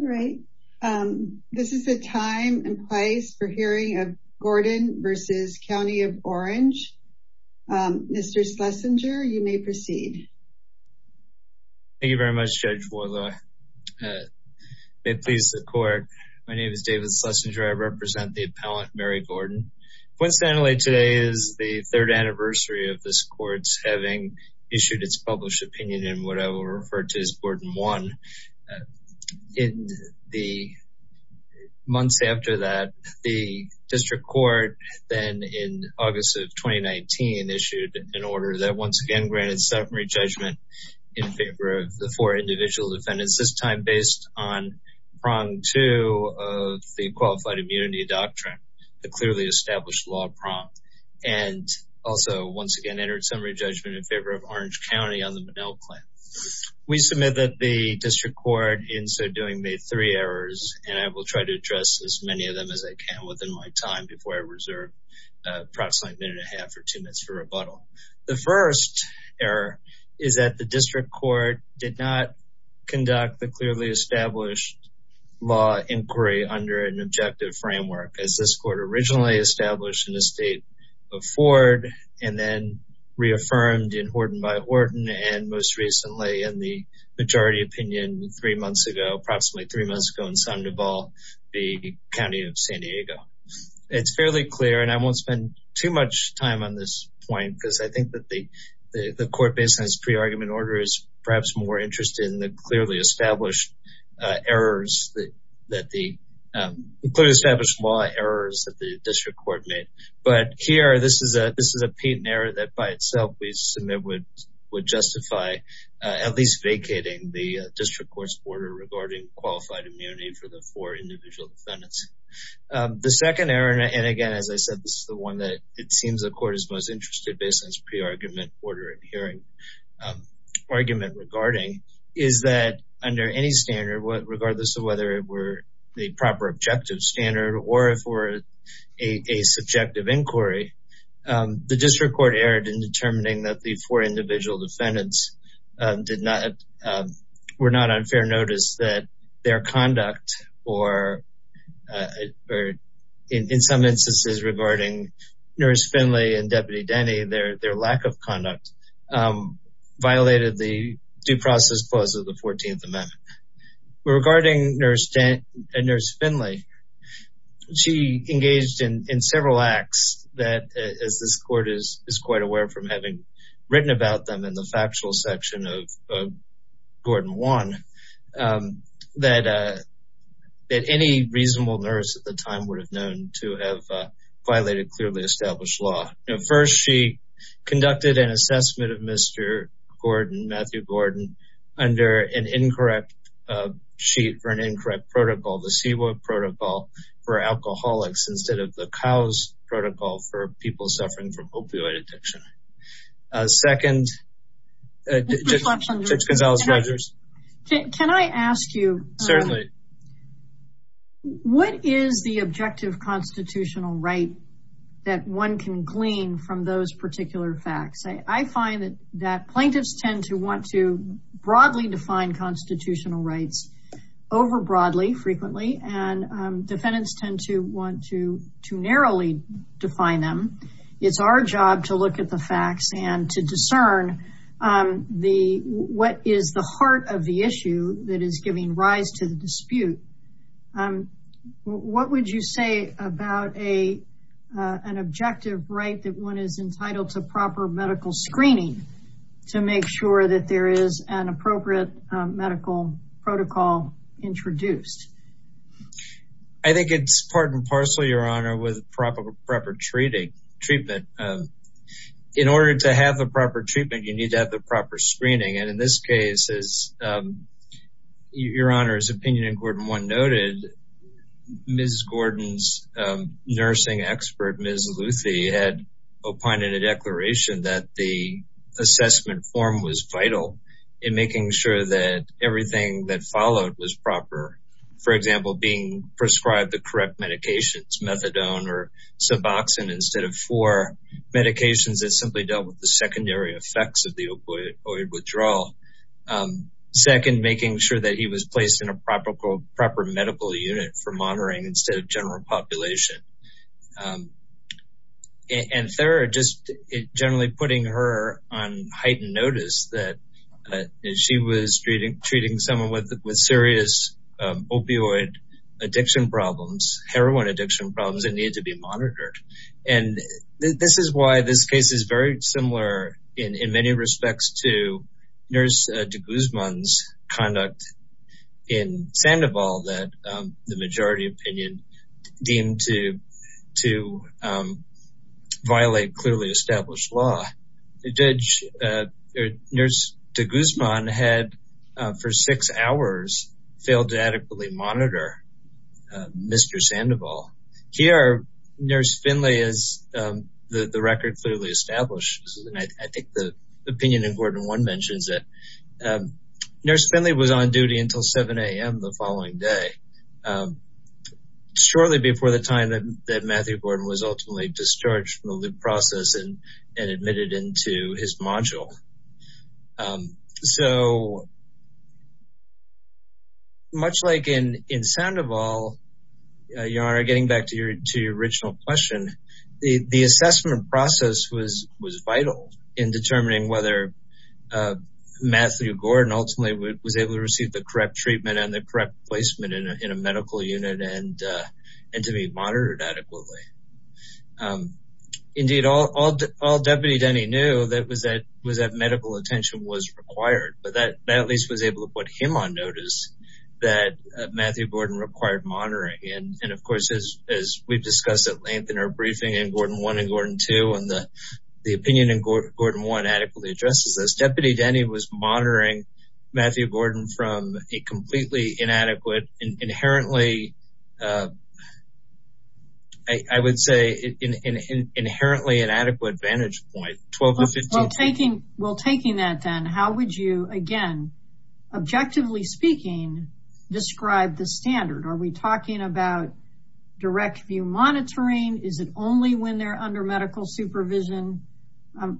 All right. This is a time and place for hearing of Gordon v. County of Orange. Mr. Schlesinger, you may proceed. Thank you very much, Judge Woyle. May it please the court. My name is David Schlesinger. I represent the appellant, Mary Gordon. Winston-Anne Lake today is the third anniversary of this court's having issued its published opinion in what I will refer to as Gordon 1. In the months after that, the district court, then in August of 2019, issued an order that once again granted summary judgment in favor of the four individual defendants, this time based on prong two of the Qualified Immunity Doctrine, the clearly established law prompt, and also once again entered summary judgment in favor of Orange County on the Monell Claim. We submit that the district court in so doing made three errors, and I will try to address as many of them as I can within my time before I reserve approximately a minute and a half or two minutes for rebuttal. The first error is that the district court did not conduct the clearly established law inquiry under an objective framework as this court originally established in the state of Ford and then reaffirmed in Horton by Horton, and most recently in the majority opinion three months ago, approximately three months ago in Sandoval, the county of San Diego. It's fairly clear, and I won't spend too much time on this point because I think that the court, based on its pre-argument order, is perhaps more interested in the clearly established law errors that the district court made. But here, this is a patent error that by itself we submit would justify at least vacating the district court's order regarding qualified immunity for the four individual defendants. The second error, and again, as I said, this is the one that it seems the court is most interested based on its pre-argument order and hearing argument regarding, is that under any standard, regardless of whether it were the proper objective standard or if it were a subjective inquiry, the district court erred in determining that the four individual defendants were not on fair notice that their conduct, or in some instances regarding Nurse Finley and Deputy Denny, their lack of conduct violated the due process clause of the 14th She engaged in several acts that, as this court is quite aware from having written about them in the factual section of Gordon 1, that any reasonable nurse at the time would have known to have violated clearly established law. First, she conducted an assessment of Mr. Gordon, Matthew Gordon, under an incorrect sheet for an incorrect protocol, the CWO protocol for alcoholics instead of the COWS protocol for people suffering from opioid addiction. Second, Judge Gonzalez-Rogers. Can I ask you, what is the objective constitutional right that one can glean from those particular facts? I find that plaintiffs tend to want to broadly define constitutional rights over broadly, frequently, and defendants tend to want to narrowly define them. It's our job to look at the facts and to discern what is the heart of the issue that is giving rise to the dispute. What would you say about an objective right that one is entitled to proper medical screening to make sure that there is an appropriate medical protocol introduced? I think it's part and parcel, Your Honor, with proper treatment. In order to have the proper treatment, you need to have the proper screening. And in this case, as Your Honor's opinion in Gordon 1 noted, Ms. Gordon's nursing expert, Ms. Luthi, had opined in a declaration that the assessment form was vital in making sure that everything that followed was proper. For example, being prescribed the correct medications, methadone or suboxone, instead of four medications that simply dealt with the secondary effects of the opioid withdrawal. Second, making sure that he was placed in a proper medical unit for monitoring instead of general population. And third, just generally putting her on heightened notice that she was treating someone with serious opioid addiction problems, heroin addiction problems, that needed to be monitored. And this is why this case is very similar in many respects to Nurse de Guzman's conduct in Sandoval that the majority opinion deemed to violate clearly established law. Nurse de Guzman had for six hours failed to adequately monitor Mr. Sandoval. Here, Nurse Finley, as the record clearly establishes, and I think the opinion in Gordon 1 mentions it, Nurse Finley was on duty until 7 a.m. the following day, shortly before the time that Matthew Gordon was ultimately discharged from the loop process and admitted into his module. So, much like in Sandoval, Yara, getting back to your original question, the assessment process was vital in determining whether Matthew Gordon ultimately was able to receive the correct treatment and the correct placement in a medical unit and to be monitored adequately. Indeed, all Deputy Denny knew was that medical attention was required, but that at least was able to put him on notice that Matthew Gordon required monitoring. And of course, as we discussed at length in our briefing in Gordon 1 and Gordon 2 and the opinion in Gordon 1 adequately addresses this, Deputy Denny was monitoring Matthew Gordon from a completely inadequate, inherently, I would say, an inherently inadequate vantage point. Well, taking that then, how would you, again, objectively speaking, describe the standard? Are we talking about direct view monitoring? Is it only when they're under medical supervision?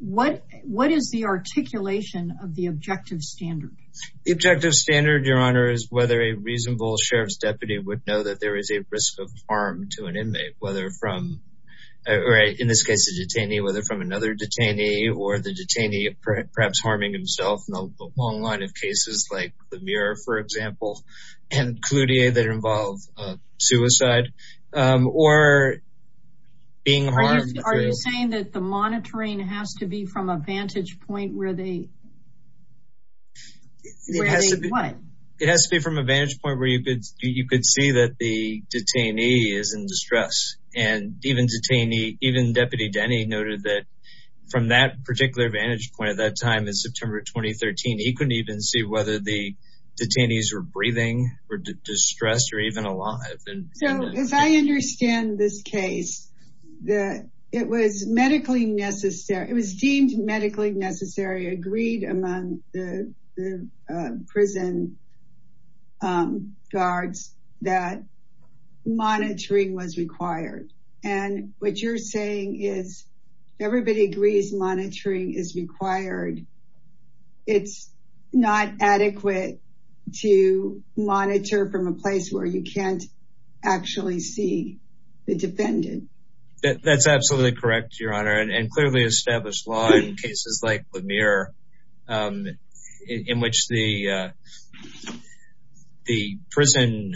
What is the articulation of the objective standard? The objective standard, Your Honor, is whether a reasonable sheriff's deputy would know that there is a risk of harm to an inmate, whether from, or in this case, a detainee, whether from another detainee or the detainee perhaps harming himself in a long line of cases like Lemire, for example, and Cloutier that involve suicide or being harmed. Are you saying that the monitoring has to be from a vantage point where they what? It has to be from a vantage point where you could see that the detainee is in distress and even detainee, even Deputy Denny noted that from that particular vantage point at that time in September 2013, he couldn't even see whether the detainees were breathing or distressed or even alive. So as I understand this case, that it was medically necessary. It was deemed medically necessary, agreed among the prison guards that monitoring was required. And what you're saying is everybody agrees monitoring is required. It's not adequate to monitor from a place where you can't actually see the defendant. That's absolutely correct, Your Honor. And clearly established law in cases like Lemire, in which the prison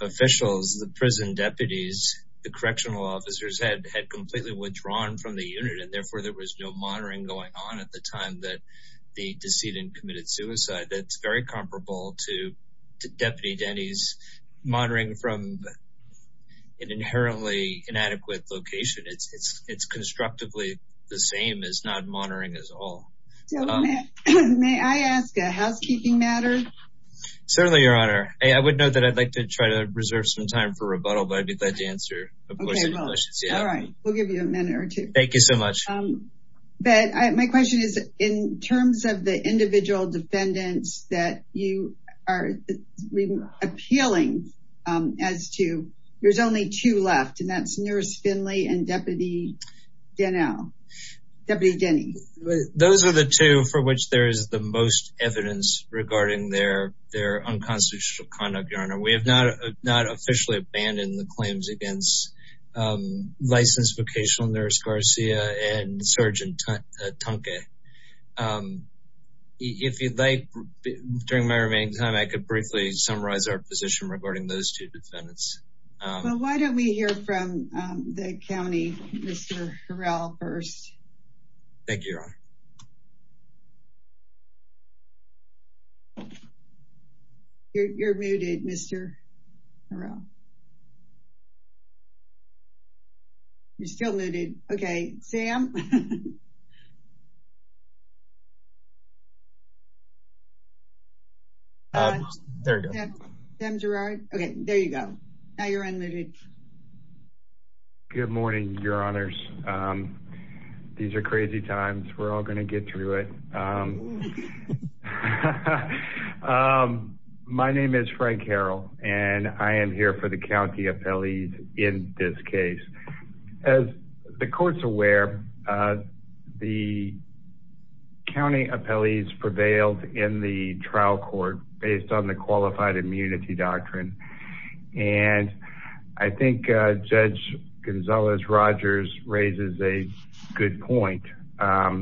officials, the prison deputies, the correctional officers had completely withdrawn from the unit. And therefore there was no monitoring going on at the time that the decedent committed suicide. That's very comparable to Deputy Denny's monitoring from an inherently inadequate location. It's constructively the same as not monitoring at all. May I ask a housekeeping matter? Certainly, Your Honor. I would know that I'd like to try to reserve some time for rebuttal, but I'd be glad to answer. All right, we'll give you a minute or two. Thank you so much. But my question is, in terms of the individual defendants that you are appealing as to, there's only two left, and that's Nurse Finley and Deputy Denny. Those are the two for which there is the most evidence regarding their unconstitutional conduct, Your Honor. We have not officially abandoned the claims against Licensed Vocational Nurse Garcia and Sgt. Tonke. If you'd like, during my remaining time, I could briefly summarize our position regarding those two defendants. Well, why don't we hear from the county, Mr. Harrell first. Thank you, Your Honor. You're muted, Mr. Harrell. You're still muted. Okay, Sam. Okay, there you go. Now you're unmuted. Good morning, Your Honors. These are crazy times. We're all going to get through it. My name is Frank Harrell, and I am here for the county appellees in this case. As the court's aware, the county appellees prevailed in the trial court based on the qualified immunity doctrine. And I think Judge Gonzalez-Rogers raises a good point. How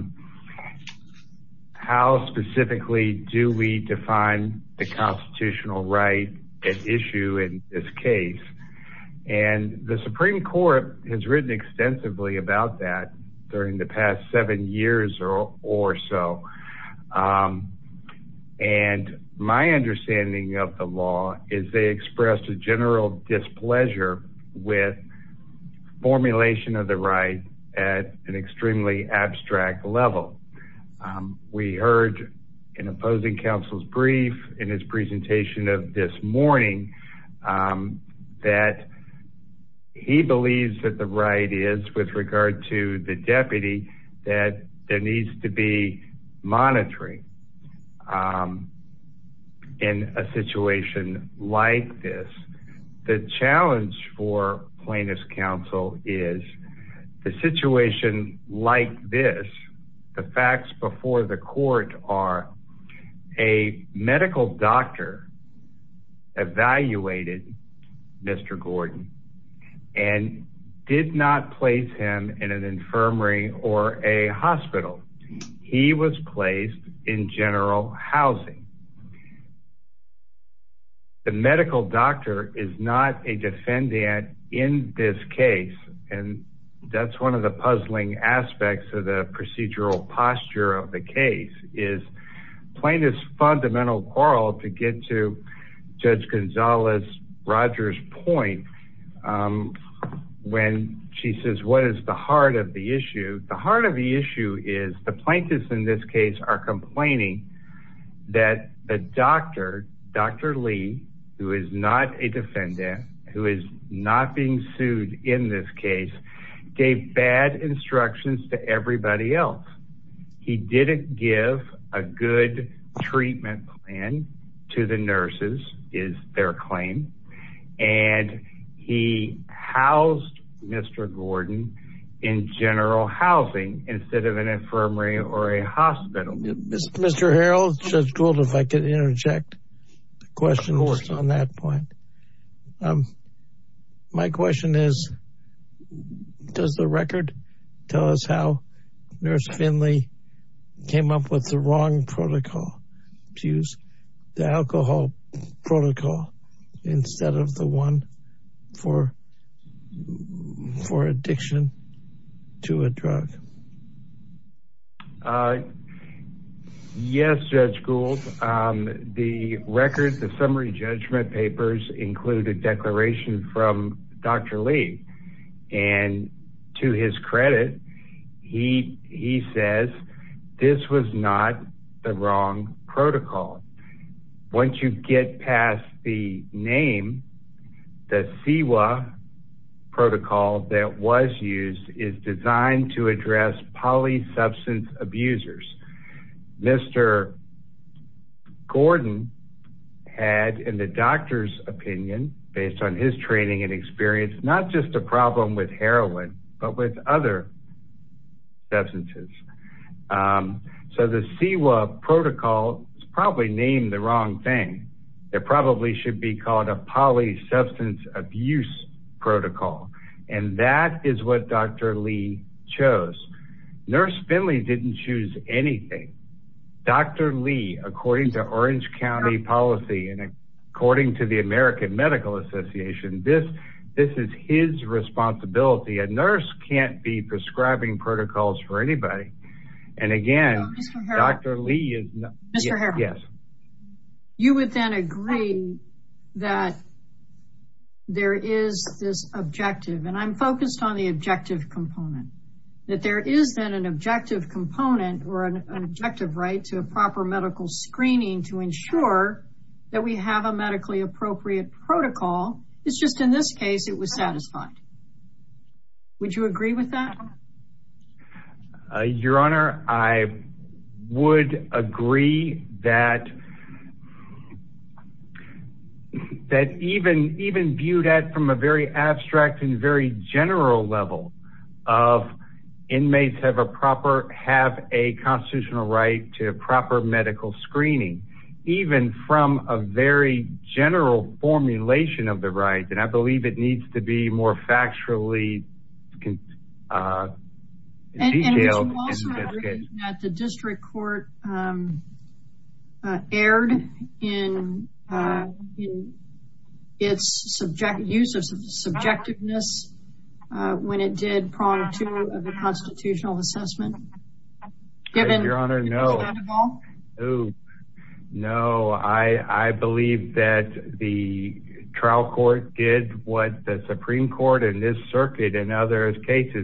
specifically do we define the constitutional right at issue in this case? And the Supreme Court has written extensively about that during the past seven years or so. And my understanding of the law is they expressed a general displeasure with formulation of the right at an extremely abstract level. We heard in opposing counsel's brief in his presentation of this morning that he believes that the right is with regard to the deputy that there needs to be monitoring in a situation like this. The challenge for plaintiff's counsel is the situation like this, the facts before the court are a medical doctor evaluated Mr. Gordon and did not place him in an infirmary or a hospital. He was placed in general housing. The medical doctor is not a defendant in this case. And that's one of the puzzling aspects of the procedural posture of the case is plaintiff's fundamental quarrel to get to Judge Gonzalez-Rogers point when she says, what is the heart of the issue? The heart of the issue is the plaintiffs in this case are complaining that the doctor, Dr. Lee, who is not a defendant, who is not being sued in this case, gave bad instructions to everybody else. He didn't give a good treatment plan to the nurses is their claim. And he housed Mr. Gordon in general housing instead of an infirmary or a hospital. Mr. Harold, Judge Gould, if I could interject questions on that point. My question is, does the record tell us how nurse Finley came up with the wrong protocol to use the alcohol protocol instead of the one for addiction to a drug? Yes, Judge Gould, the record, the summary judgment papers include a declaration from Dr. Lee. And to his credit, he says, this was not the wrong protocol. Once you get past the name, the CEWA protocol that was used is designed to address polysubstance abusers. Mr. Gordon had in the doctor's opinion, based on his training and experience, not just a problem with heroin, but with other substances. So the CEWA protocol is probably named the wrong thing. It probably should be called a polysubstance abuse protocol. And that is what Dr. Lee chose. Nurse Finley didn't choose anything. Dr. Lee, according to Orange County policy, and according to the American Medical Association, this is his responsibility. A nurse can't be prescribing protocols for anybody. And again, Dr. Lee is not. You would then agree that there is this objective, and I'm focused on the objective component, that there is then an objective component or an objective right to a proper medical screening to ensure that we have a medically appropriate protocol. It's just in this case, it was with that? Your Honor, I would agree that that even viewed at from a very abstract and very general level of inmates have a constitutional right to a proper medical screening, even from a very general formulation of the right. And I would also agree that the district court erred in its use of subjectiveness when it did prong to the constitutional assessment. Your Honor, no. I believe that the trial court did what the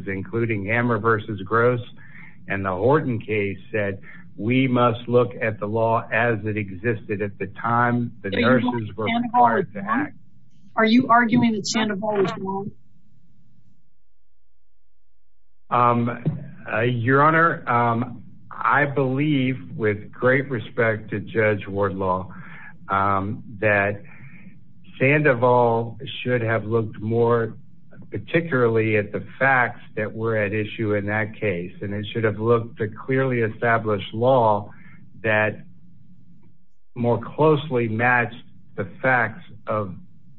including Hammer v. Gross and the Horton case said we must look at the law as it existed at the time the nurses were required to act. Are you arguing that Sandoval was wrong? Your Honor, I believe with great respect to Judge Wardlaw that Sandoval should have looked more particularly at the facts that were at issue in that case, and it should have looked at clearly established law that more closely matched the facts of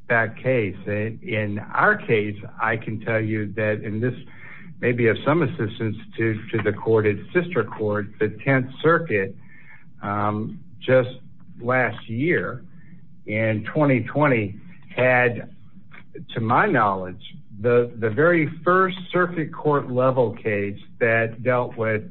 that case. In our case, I can tell you that in this, maybe of some assistance to the court, it's sister court, the 10th Circuit, um, just last year in 2020 had, to my knowledge, the very first circuit court level case that dealt with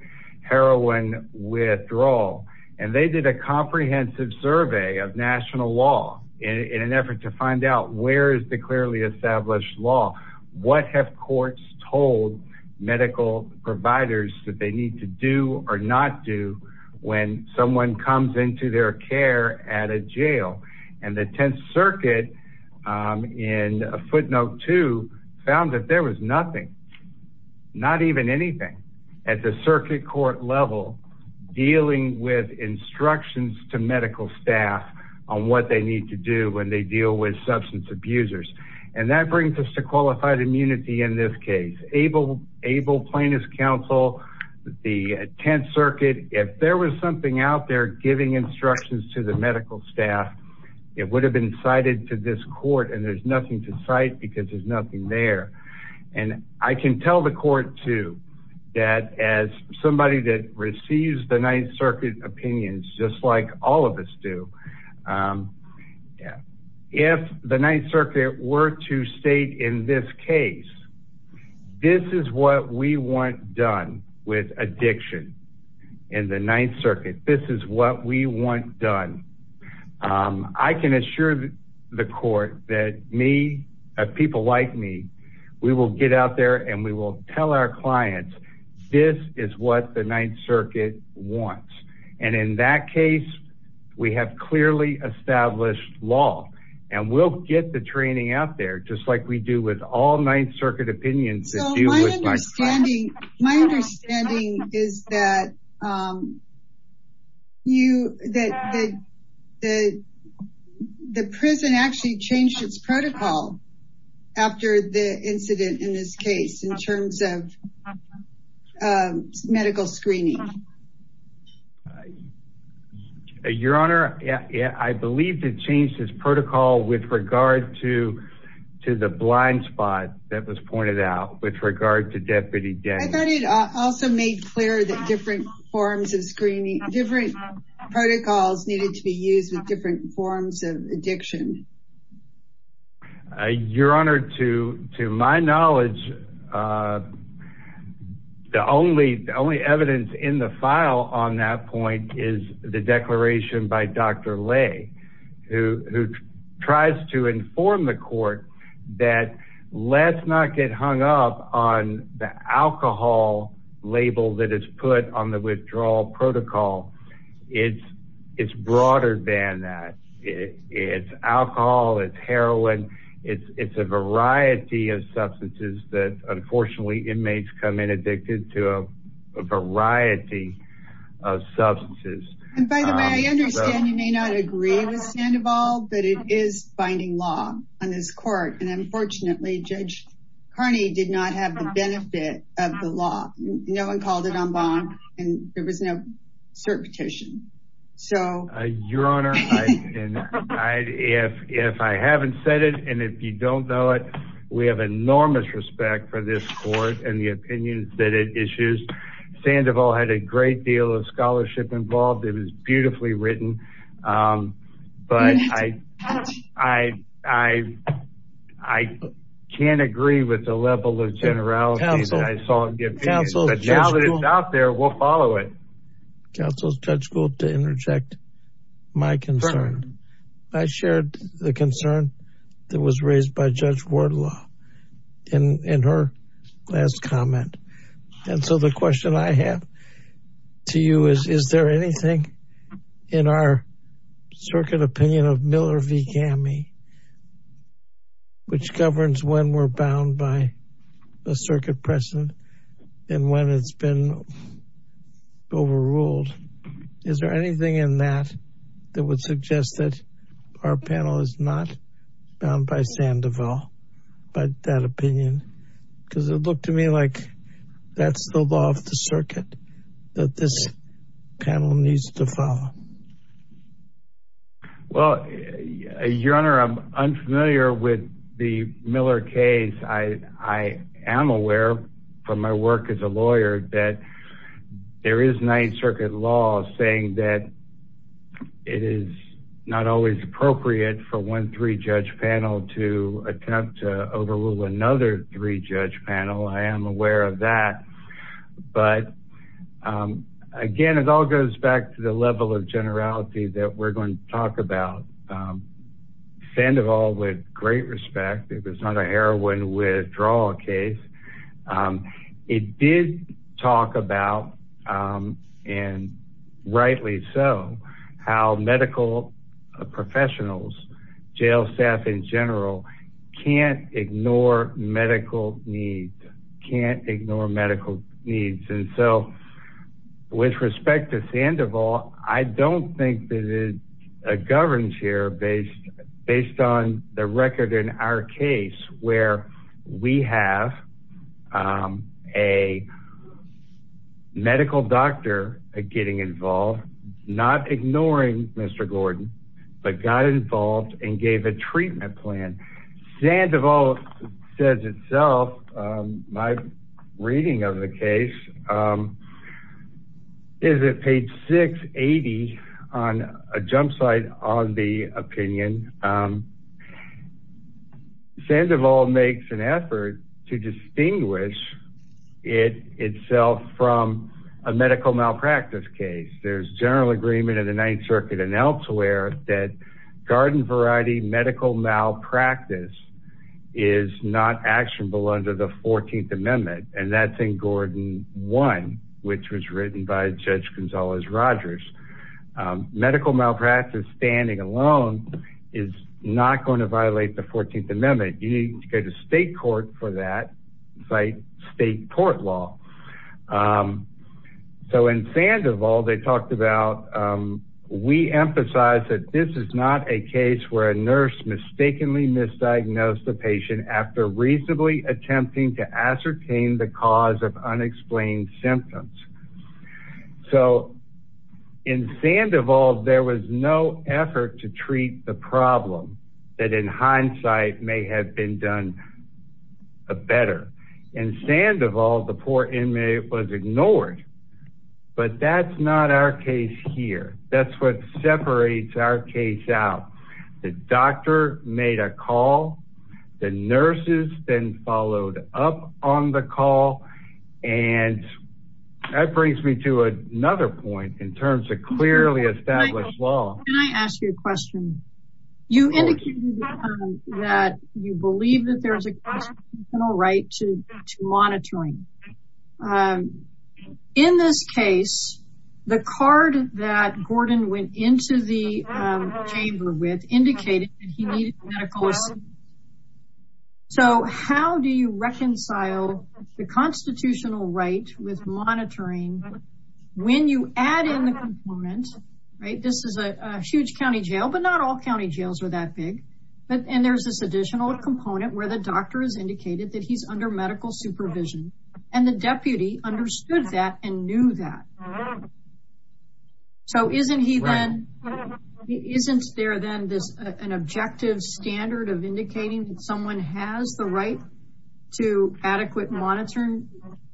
heroin withdrawal. And they did a comprehensive survey of national law in an effort to find out where is the clearly established law? What have courts told medical providers that they need to or not do when someone comes into their care at a jail? And the 10th Circuit, um, in footnote two, found that there was nothing, not even anything at the circuit court level dealing with instructions to medical staff on what they need to do when they deal with substance abusers. And that brings us to qualified immunity in this case. Able plaintiff's counsel, the 10th Circuit, if there was something out there giving instructions to the medical staff, it would have been cited to this court. And there's nothing to cite because there's nothing there. And I can tell the court too, that as somebody that receives the 9th Circuit opinions, just like all of us do, um, yeah. If the 9th Circuit were to state in this case, this is what we want done with addiction in the 9th Circuit. This is what we want done. Um, I can assure the court that me, people like me, we will get out there and we will tell our wants. And in that case, we have clearly established law and we'll get the training out there just like we do with all 9th Circuit opinions. My understanding is that, um, you, that the, the, the prison actually changed its protocol after the incident in this case, in terms of, um, medical screening. Your Honor, I believe they changed this protocol with regard to, to the blind spot that was pointed out with regard to Deputy Day. I thought it also made clear that different forms of screening, different protocols needed to be used with different forms of addiction. Your Honor, to, to my knowledge, uh, the only, the only evidence in the file on that point is the declaration by Dr. Lay, who, who tries to inform the court that let's not get hung up on the alcohol label that is put on the withdrawal protocol. It's, it's broader than that. It's alcohol. It's heroin. It's, it's a variety of substances that unfortunately inmates come in addicted to a variety of substances. And by the way, I understand you may not agree with Sandoval, but it is binding law on this court. And unfortunately, Judge Carney did not have the benefit of the law. No one called it en banc and there was no certification. So, uh, Your Honor, if I haven't said it, and if you don't know it, we have enormous respect for this court and the opinions that it issues. Sandoval had a great deal of scholarship involved. It was beautifully written. Um, but I, I, I, I can't agree with the level of generality that I saw, but now that it's out there, we'll follow it. Counsel Judge Gould to interject my concern. I shared the concern that was raised by Judge Wardlaw in, in her last comment. And so the question I have to you is, is there anything in our circuit opinion of Miller v. Gammie, which governs when we're bound by a circuit precedent and when it's been overruled, is there anything in that that would suggest that our panel is not bound by Sandoval, by that opinion? Because it looked to me like that's the law of the circuit that this panel needs to follow. Well, Your Honor, I'm unfamiliar with the Miller case. I, I am aware from my work as a lawyer that there is Ninth Circuit law saying that it is not always appropriate for one three-judge panel to attempt to overrule another three-judge panel. I am aware of that, but again, it all goes back to the level of generality that we're going to talk about. Sandoval, with great respect, it was not a heroin withdrawal case. It did talk about, and rightly so, how medical professionals, jail staff in general, can't ignore medical need, can't ignore medical needs. And so, with respect to Sandoval, I don't think that it governs here based, based on the record in our case where we have a medical doctor getting involved, not ignoring Mr. Gordon, but got involved and gave a treatment plan. Sandoval says itself, my reading of the case, is at page 680 on a jump site on the opinion. Sandoval makes an effort to distinguish it itself from a medical malpractice case. There's general agreement in the Ninth Circuit and elsewhere that garden variety medical malpractice is not actionable under the 14th Amendment, and that's in Gordon 1, which was written by Judge Gonzalez Rogers. Medical malpractice standing alone is not going to violate the 14th Amendment. You need to go to state court for that, cite state court law. So, in Sandoval, they talked about, we emphasize that this is not a case where a nurse mistakenly misdiagnosed the patient after reasonably attempting to ascertain the cause of unexplained symptoms. So, in Sandoval, there was no effort to treat the problem that in hindsight may have been done better. In Sandoval, the poor inmate was ignored, but that's not our case here. That's what separates our case out. The doctor made a call, the nurses then followed up on the call, and that brings me to another point in terms of clearly established law. Can I ask you a question? You indicated that you believe that there's a right to monitoring. In this case, the card that Gordon went into the chamber with indicated that he needed medical assistance. So, how do you reconcile the constitutional right with monitoring when you add in the component, right? This is a huge county jail, but not all county jails are that big, and there's this additional component where the doctor has indicated that he's under medical supervision, and the deputy understood that and knew that. So, isn't there then an objective standard of indicating that someone has the right to adequate monitoring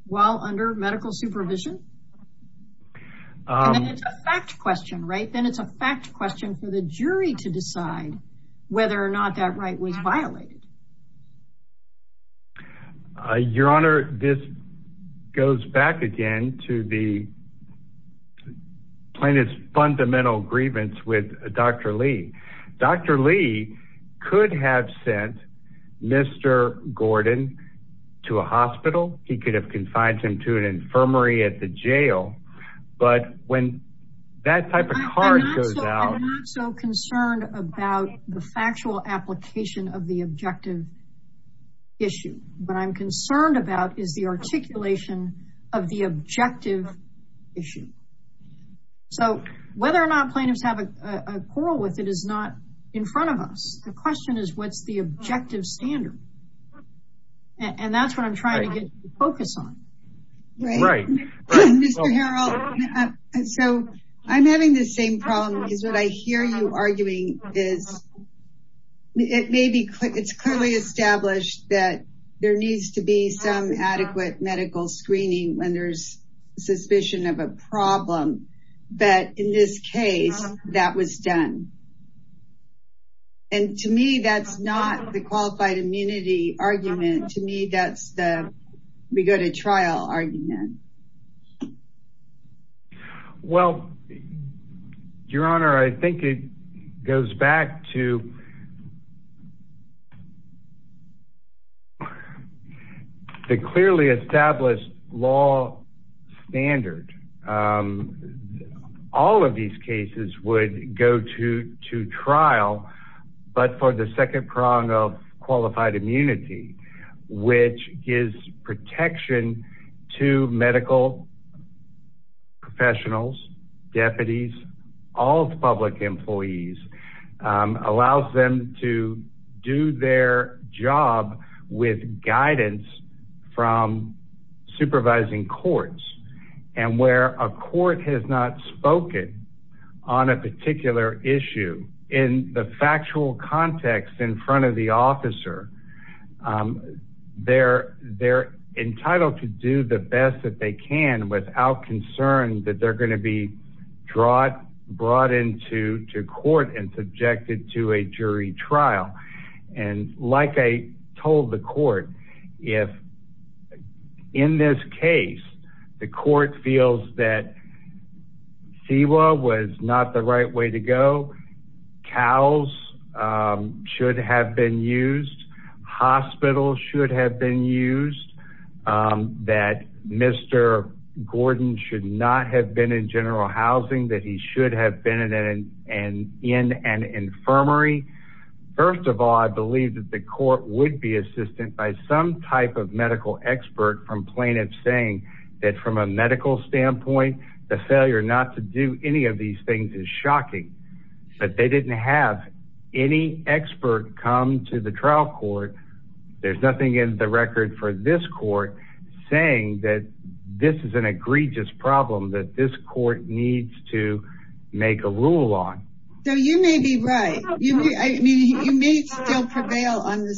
while under medical supervision? Then it's a fact question, right? Then it's a fact question for the jury to decide whether or not that right was violated. Your Honor, this goes back again to the plaintiff's fundamental grievance with Dr. Lee. Dr. Lee could have sent Mr. Gordon to a hospital. He could have confined him to an infirmary at the factual application of the objective issue. What I'm concerned about is the articulation of the objective issue. So, whether or not plaintiffs have a quarrel with it is not in front of us. The question is, what's the objective standard? And that's what I'm trying to get you to focus on, right? Mr. Harrell, so I'm having the same problem. What I hear you arguing is, it's clearly established that there needs to be some adequate medical screening when there's suspicion of a problem, but in this case, that was done. And to me, that's not the qualified immunity argument. To me, that's the we go to trial argument. Well, Your Honor, I think it goes back to the clearly established law standard. All of these cases would go to trial, but for the second prong of qualified immunity, which gives protection to medical professionals, deputies, all public employees, allows them to do their job with guidance from supervising courts. And where a officer, they're entitled to do the best that they can without concern that they're going to be brought into court and subjected to a jury trial. And like I told the court, if in this case, the court feels that CEWA was not the right way to go, cows should have been used, hospitals should have been used, that Mr. Gordon should not have been in general housing, that he should have been in an infirmary. First of all, I believe that the court would be assisted by some type of medical expert from plaintiff saying that from a medical standpoint, the failure not to do any of these things is shocking. But they didn't have any expert come to the trial court. There's nothing in the record for this court saying that this is an egregious problem that this court needs to make a rule on. So you may be right. You may still prevail on the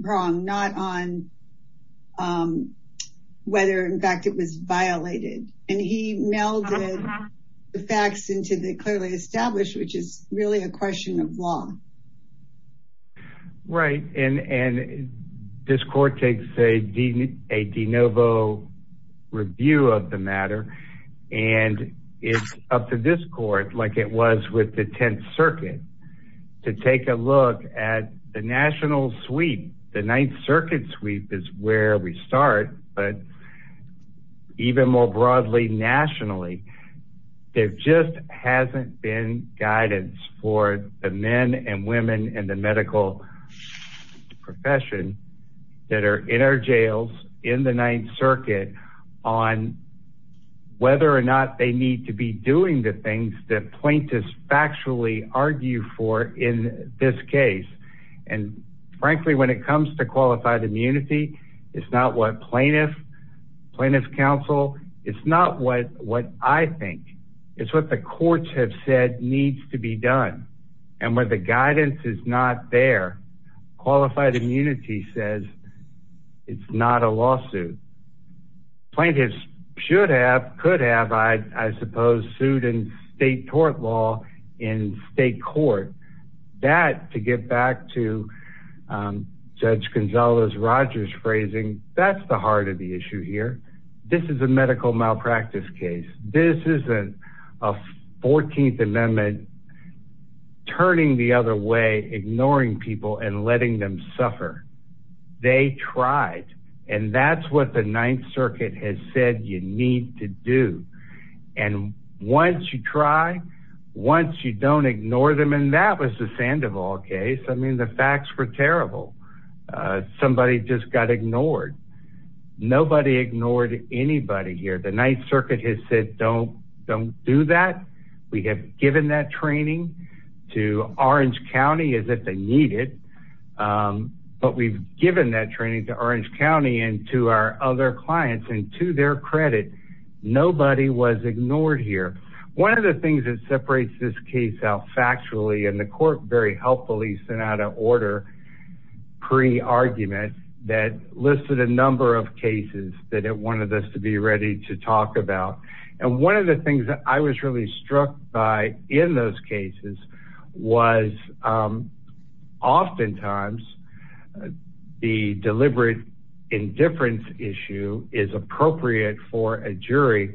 wrong, not on whether in fact it was violated. And he melded the facts into the clearly established, which is really a question of law. Right. And this court takes a de novo review of the matter. And it's up to this court, like it was with the 10th Circuit, to take a look at the national sweep. The 9th Circuit sweep is where we start, but even more broadly nationally, there just hasn't been guidance for the men and women in the medical profession that are in our jails in the 9th Circuit on whether or not they need to be the things that plaintiffs factually argue for in this case. And frankly, when it comes to qualified immunity, it's not what plaintiffs counsel, it's not what I think. It's what the courts have said needs to be done. And when the guidance is not there, qualified immunity says it's not a lawsuit. Plaintiffs should have, could have, I suppose, sued in state court law in state court. That, to get back to Judge Gonzalez-Rogers' phrasing, that's the heart of the issue here. This is a medical malpractice case. This isn't a 14th Amendment turning the tried. And that's what the 9th Circuit has said you need to do. And once you try, once you don't ignore them, and that was the Sandoval case. I mean, the facts were terrible. Somebody just got ignored. Nobody ignored anybody here. The 9th Circuit has said, don't do that. We have given that training to Orange County as if they need it. But we've given that training to Orange County and to our other clients and to their credit, nobody was ignored here. One of the things that separates this case out factually, and the court very helpfully sent out an order pre-argument that listed a number of cases that it wanted us to be ready to talk about. And one of the things that I was really struck by in those cases was oftentimes the deliberate indifference issue is appropriate for a jury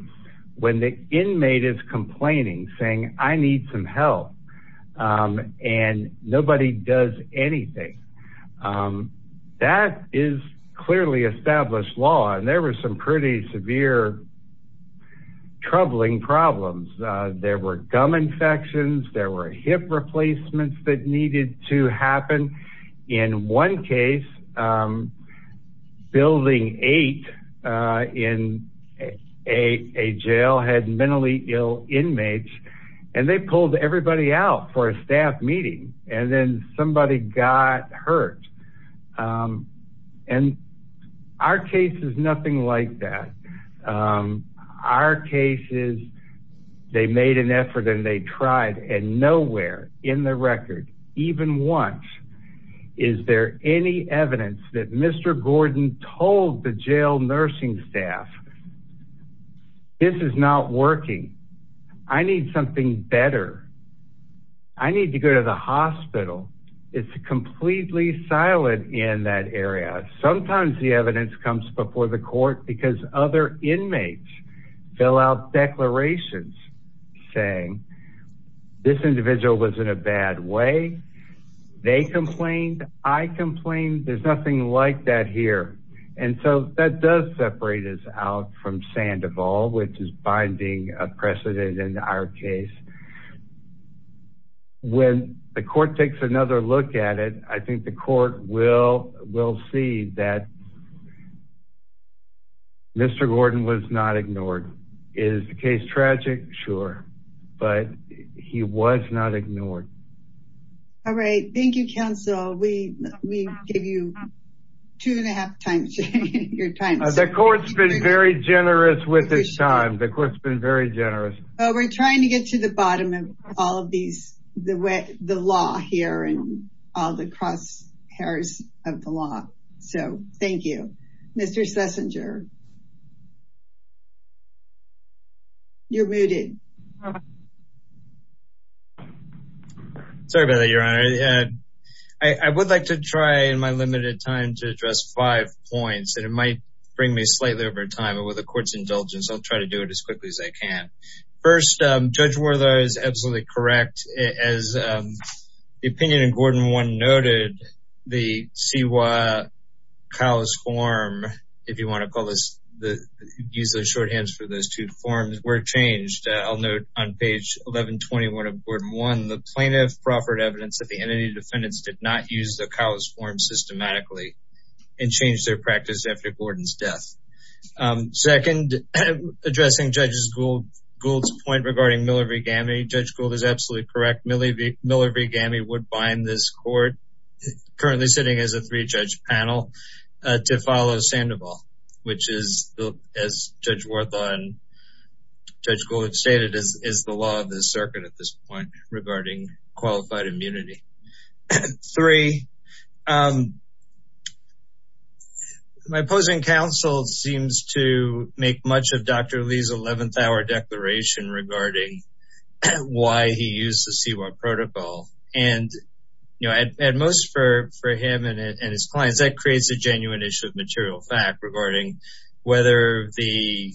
when the inmate is complaining, saying, I need some help. And nobody does anything. That is clearly established law. And there were some pretty severe and troubling problems. There were gum infections, there were hip replacements that needed to happen. In one case, Building 8 in a jail had mentally ill inmates and they pulled everybody out for a staff meeting and then somebody got hurt. And our case is nothing like that. Our case is they made an effort and they tried and nowhere in the record, even once, is there any evidence that Mr. Gordon told the jail nursing staff, this is not working. I need something better. I need to go to the hospital. It's completely silent in that area. Sometimes the evidence comes before the court because other inmates fill out declarations saying this individual was in a bad way. They complained. I complained. There's nothing like that here. And so that does separate us out from Sandoval, which is binding precedent in our case. When the court takes another look at it, I think the court will see that Mr. Gordon was not ignored. Is the case tragic? Sure. But he was not ignored. All right. Thank you, counsel. We give you two and a half times your time. The court's been very generous with this time. The court's been very generous. We're trying to get to the bottom of all of these, the law here and all the crosshairs of the law. So thank you, Mr. Schlesinger. You're muted. Sorry about that, Your Honor. I would like to try in my limited time to address five points that it might bring me slightly over time. And with the court's indulgence, I'll try to do it as quickly as I can. First, Judge Werther is absolutely correct. As the opinion in Gordon 1 noted, the C.Y. Kyle's form, if you want to use the shorthands for those two forms, were changed. I'll note on page 1121 of Gordon 1, the plaintiff proffered evidence that the entity defendants did not use the Kyle's form systematically and changed their practice after Gordon's death. Second, addressing Judge Gould's point regarding Miller v. Gammey. Judge Gould is absolutely correct. Miller v. Gammey would bind this court, currently sitting as a three-judge panel, to follow Sandoval, which is, as Judge Werther and Judge Gould stated, is the law of the circuit at this point regarding qualified immunity. Three, my opposing counsel seems to make much of Dr. Lee's 11th hour declaration regarding why he used the C.Y. protocol. And at most for him and his clients, that creates a genuine issue of material fact regarding whether the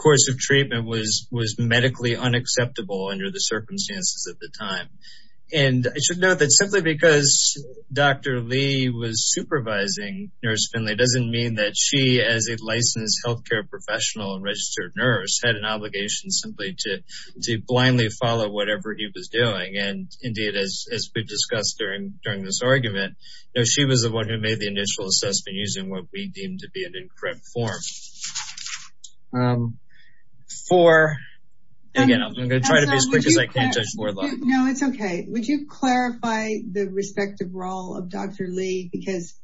course of treatment was medically unacceptable under the circumstances at the time. And I should note that simply because Dr. Lee was supervising Nurse Finley doesn't mean that she, as a licensed healthcare professional and registered nurse, had an obligation simply to blindly follow whatever he was doing. And indeed, as we discussed during this argument, she was the one who made the initial assessment using what we deemed to be the C.Y. protocol. And again, I'm going to try to be as quick as I can, Judge Werther. No, it's okay. Would you clarify the respective role of Dr. Lee? Because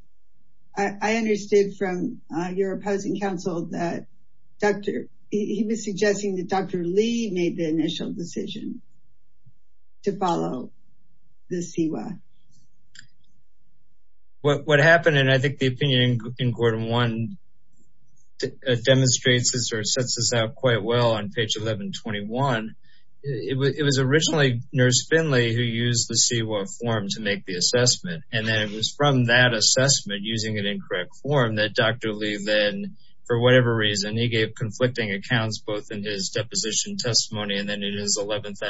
I understood from your opposing counsel that he was suggesting that Dr. Lee made the initial decision to follow the C.Y. What happened, and I think the opinion in quorum one demonstrates this or sets this out quite well on page 1121, it was originally Nurse Finley who used the C.Y. form to make the assessment. And then it was from that assessment using an incorrect form that Dr. Lee then, for whatever reason, he gave conflicting accounts both in his deposition testimony and then in his 11th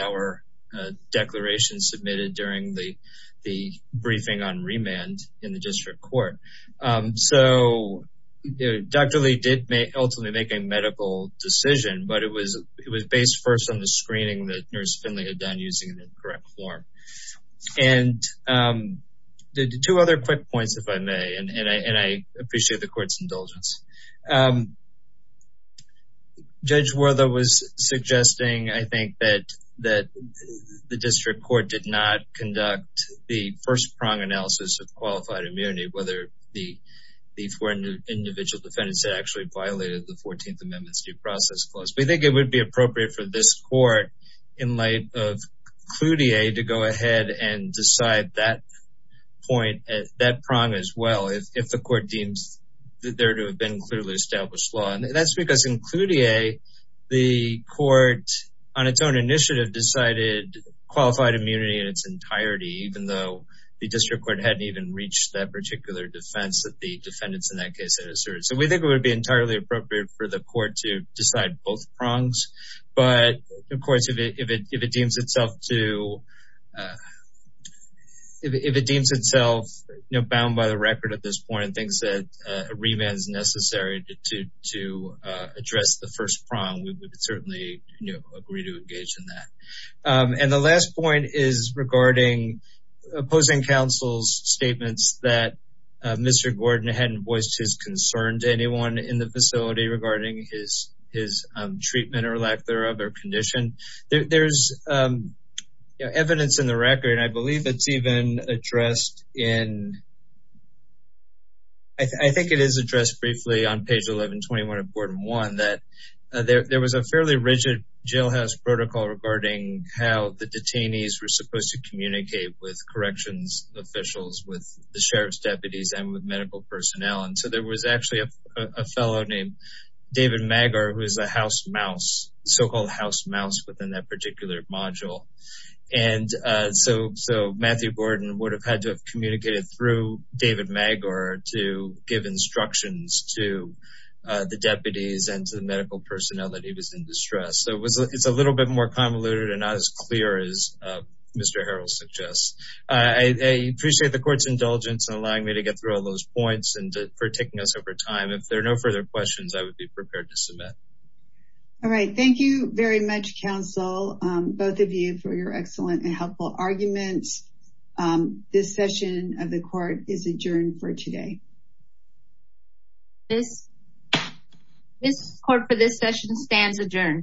declaration submitted during the briefing on remand in the district court. So Dr. Lee did ultimately make a medical decision, but it was based first on the screening that Nurse Finley had done using the correct form. And the two other quick points, if I may, and I appreciate the court's indulgence. Judge Werther was suggesting, I think, that the district court did not conduct the first prong analysis of qualified immunity, whether the four individual defendants that actually violated the 14th Amendment's due process clause. We think it would be appropriate for this court, in light of Cloutier, to go ahead and decide that point, that prong as well, if the court deems there to have been clearly established law. And that's because in Cloutier, the court, on its own initiative, decided qualified immunity in its entirety, even though the district court hadn't even reached that particular defense that the defendants in that case had asserted. So we think it would be entirely appropriate for the court to bound by the record at this point and think that a revamp is necessary to address the first prong. We would certainly agree to engage in that. And the last point is regarding opposing counsel's statements that Mr. Gordon hadn't voiced his concern to anyone in the facility regarding his treatment or lack thereof or condition. There's evidence in the record, and I believe it's even addressed in, I think it is addressed briefly on page 1121 of Gordon 1, that there was a fairly rigid jailhouse protocol regarding how the detainees were supposed to communicate with corrections officials, with the sheriff's deputies and with medical personnel. And so there was actually a fellow named David Maggar, who is a house mouse, so-called house mouse within that had to have communicated through David Maggar to give instructions to the deputies and to the medical personnel that he was in distress. So it's a little bit more convoluted and not as clear as Mr. Harrell suggests. I appreciate the court's indulgence in allowing me to get through all those points and for taking us over time. If there are no further questions, I would be prepared to submit. All right. Thank you very much, counsel, both of you for your excellent and helpful arguments. This session of the court is adjourned for today. This court for this session stands adjourned.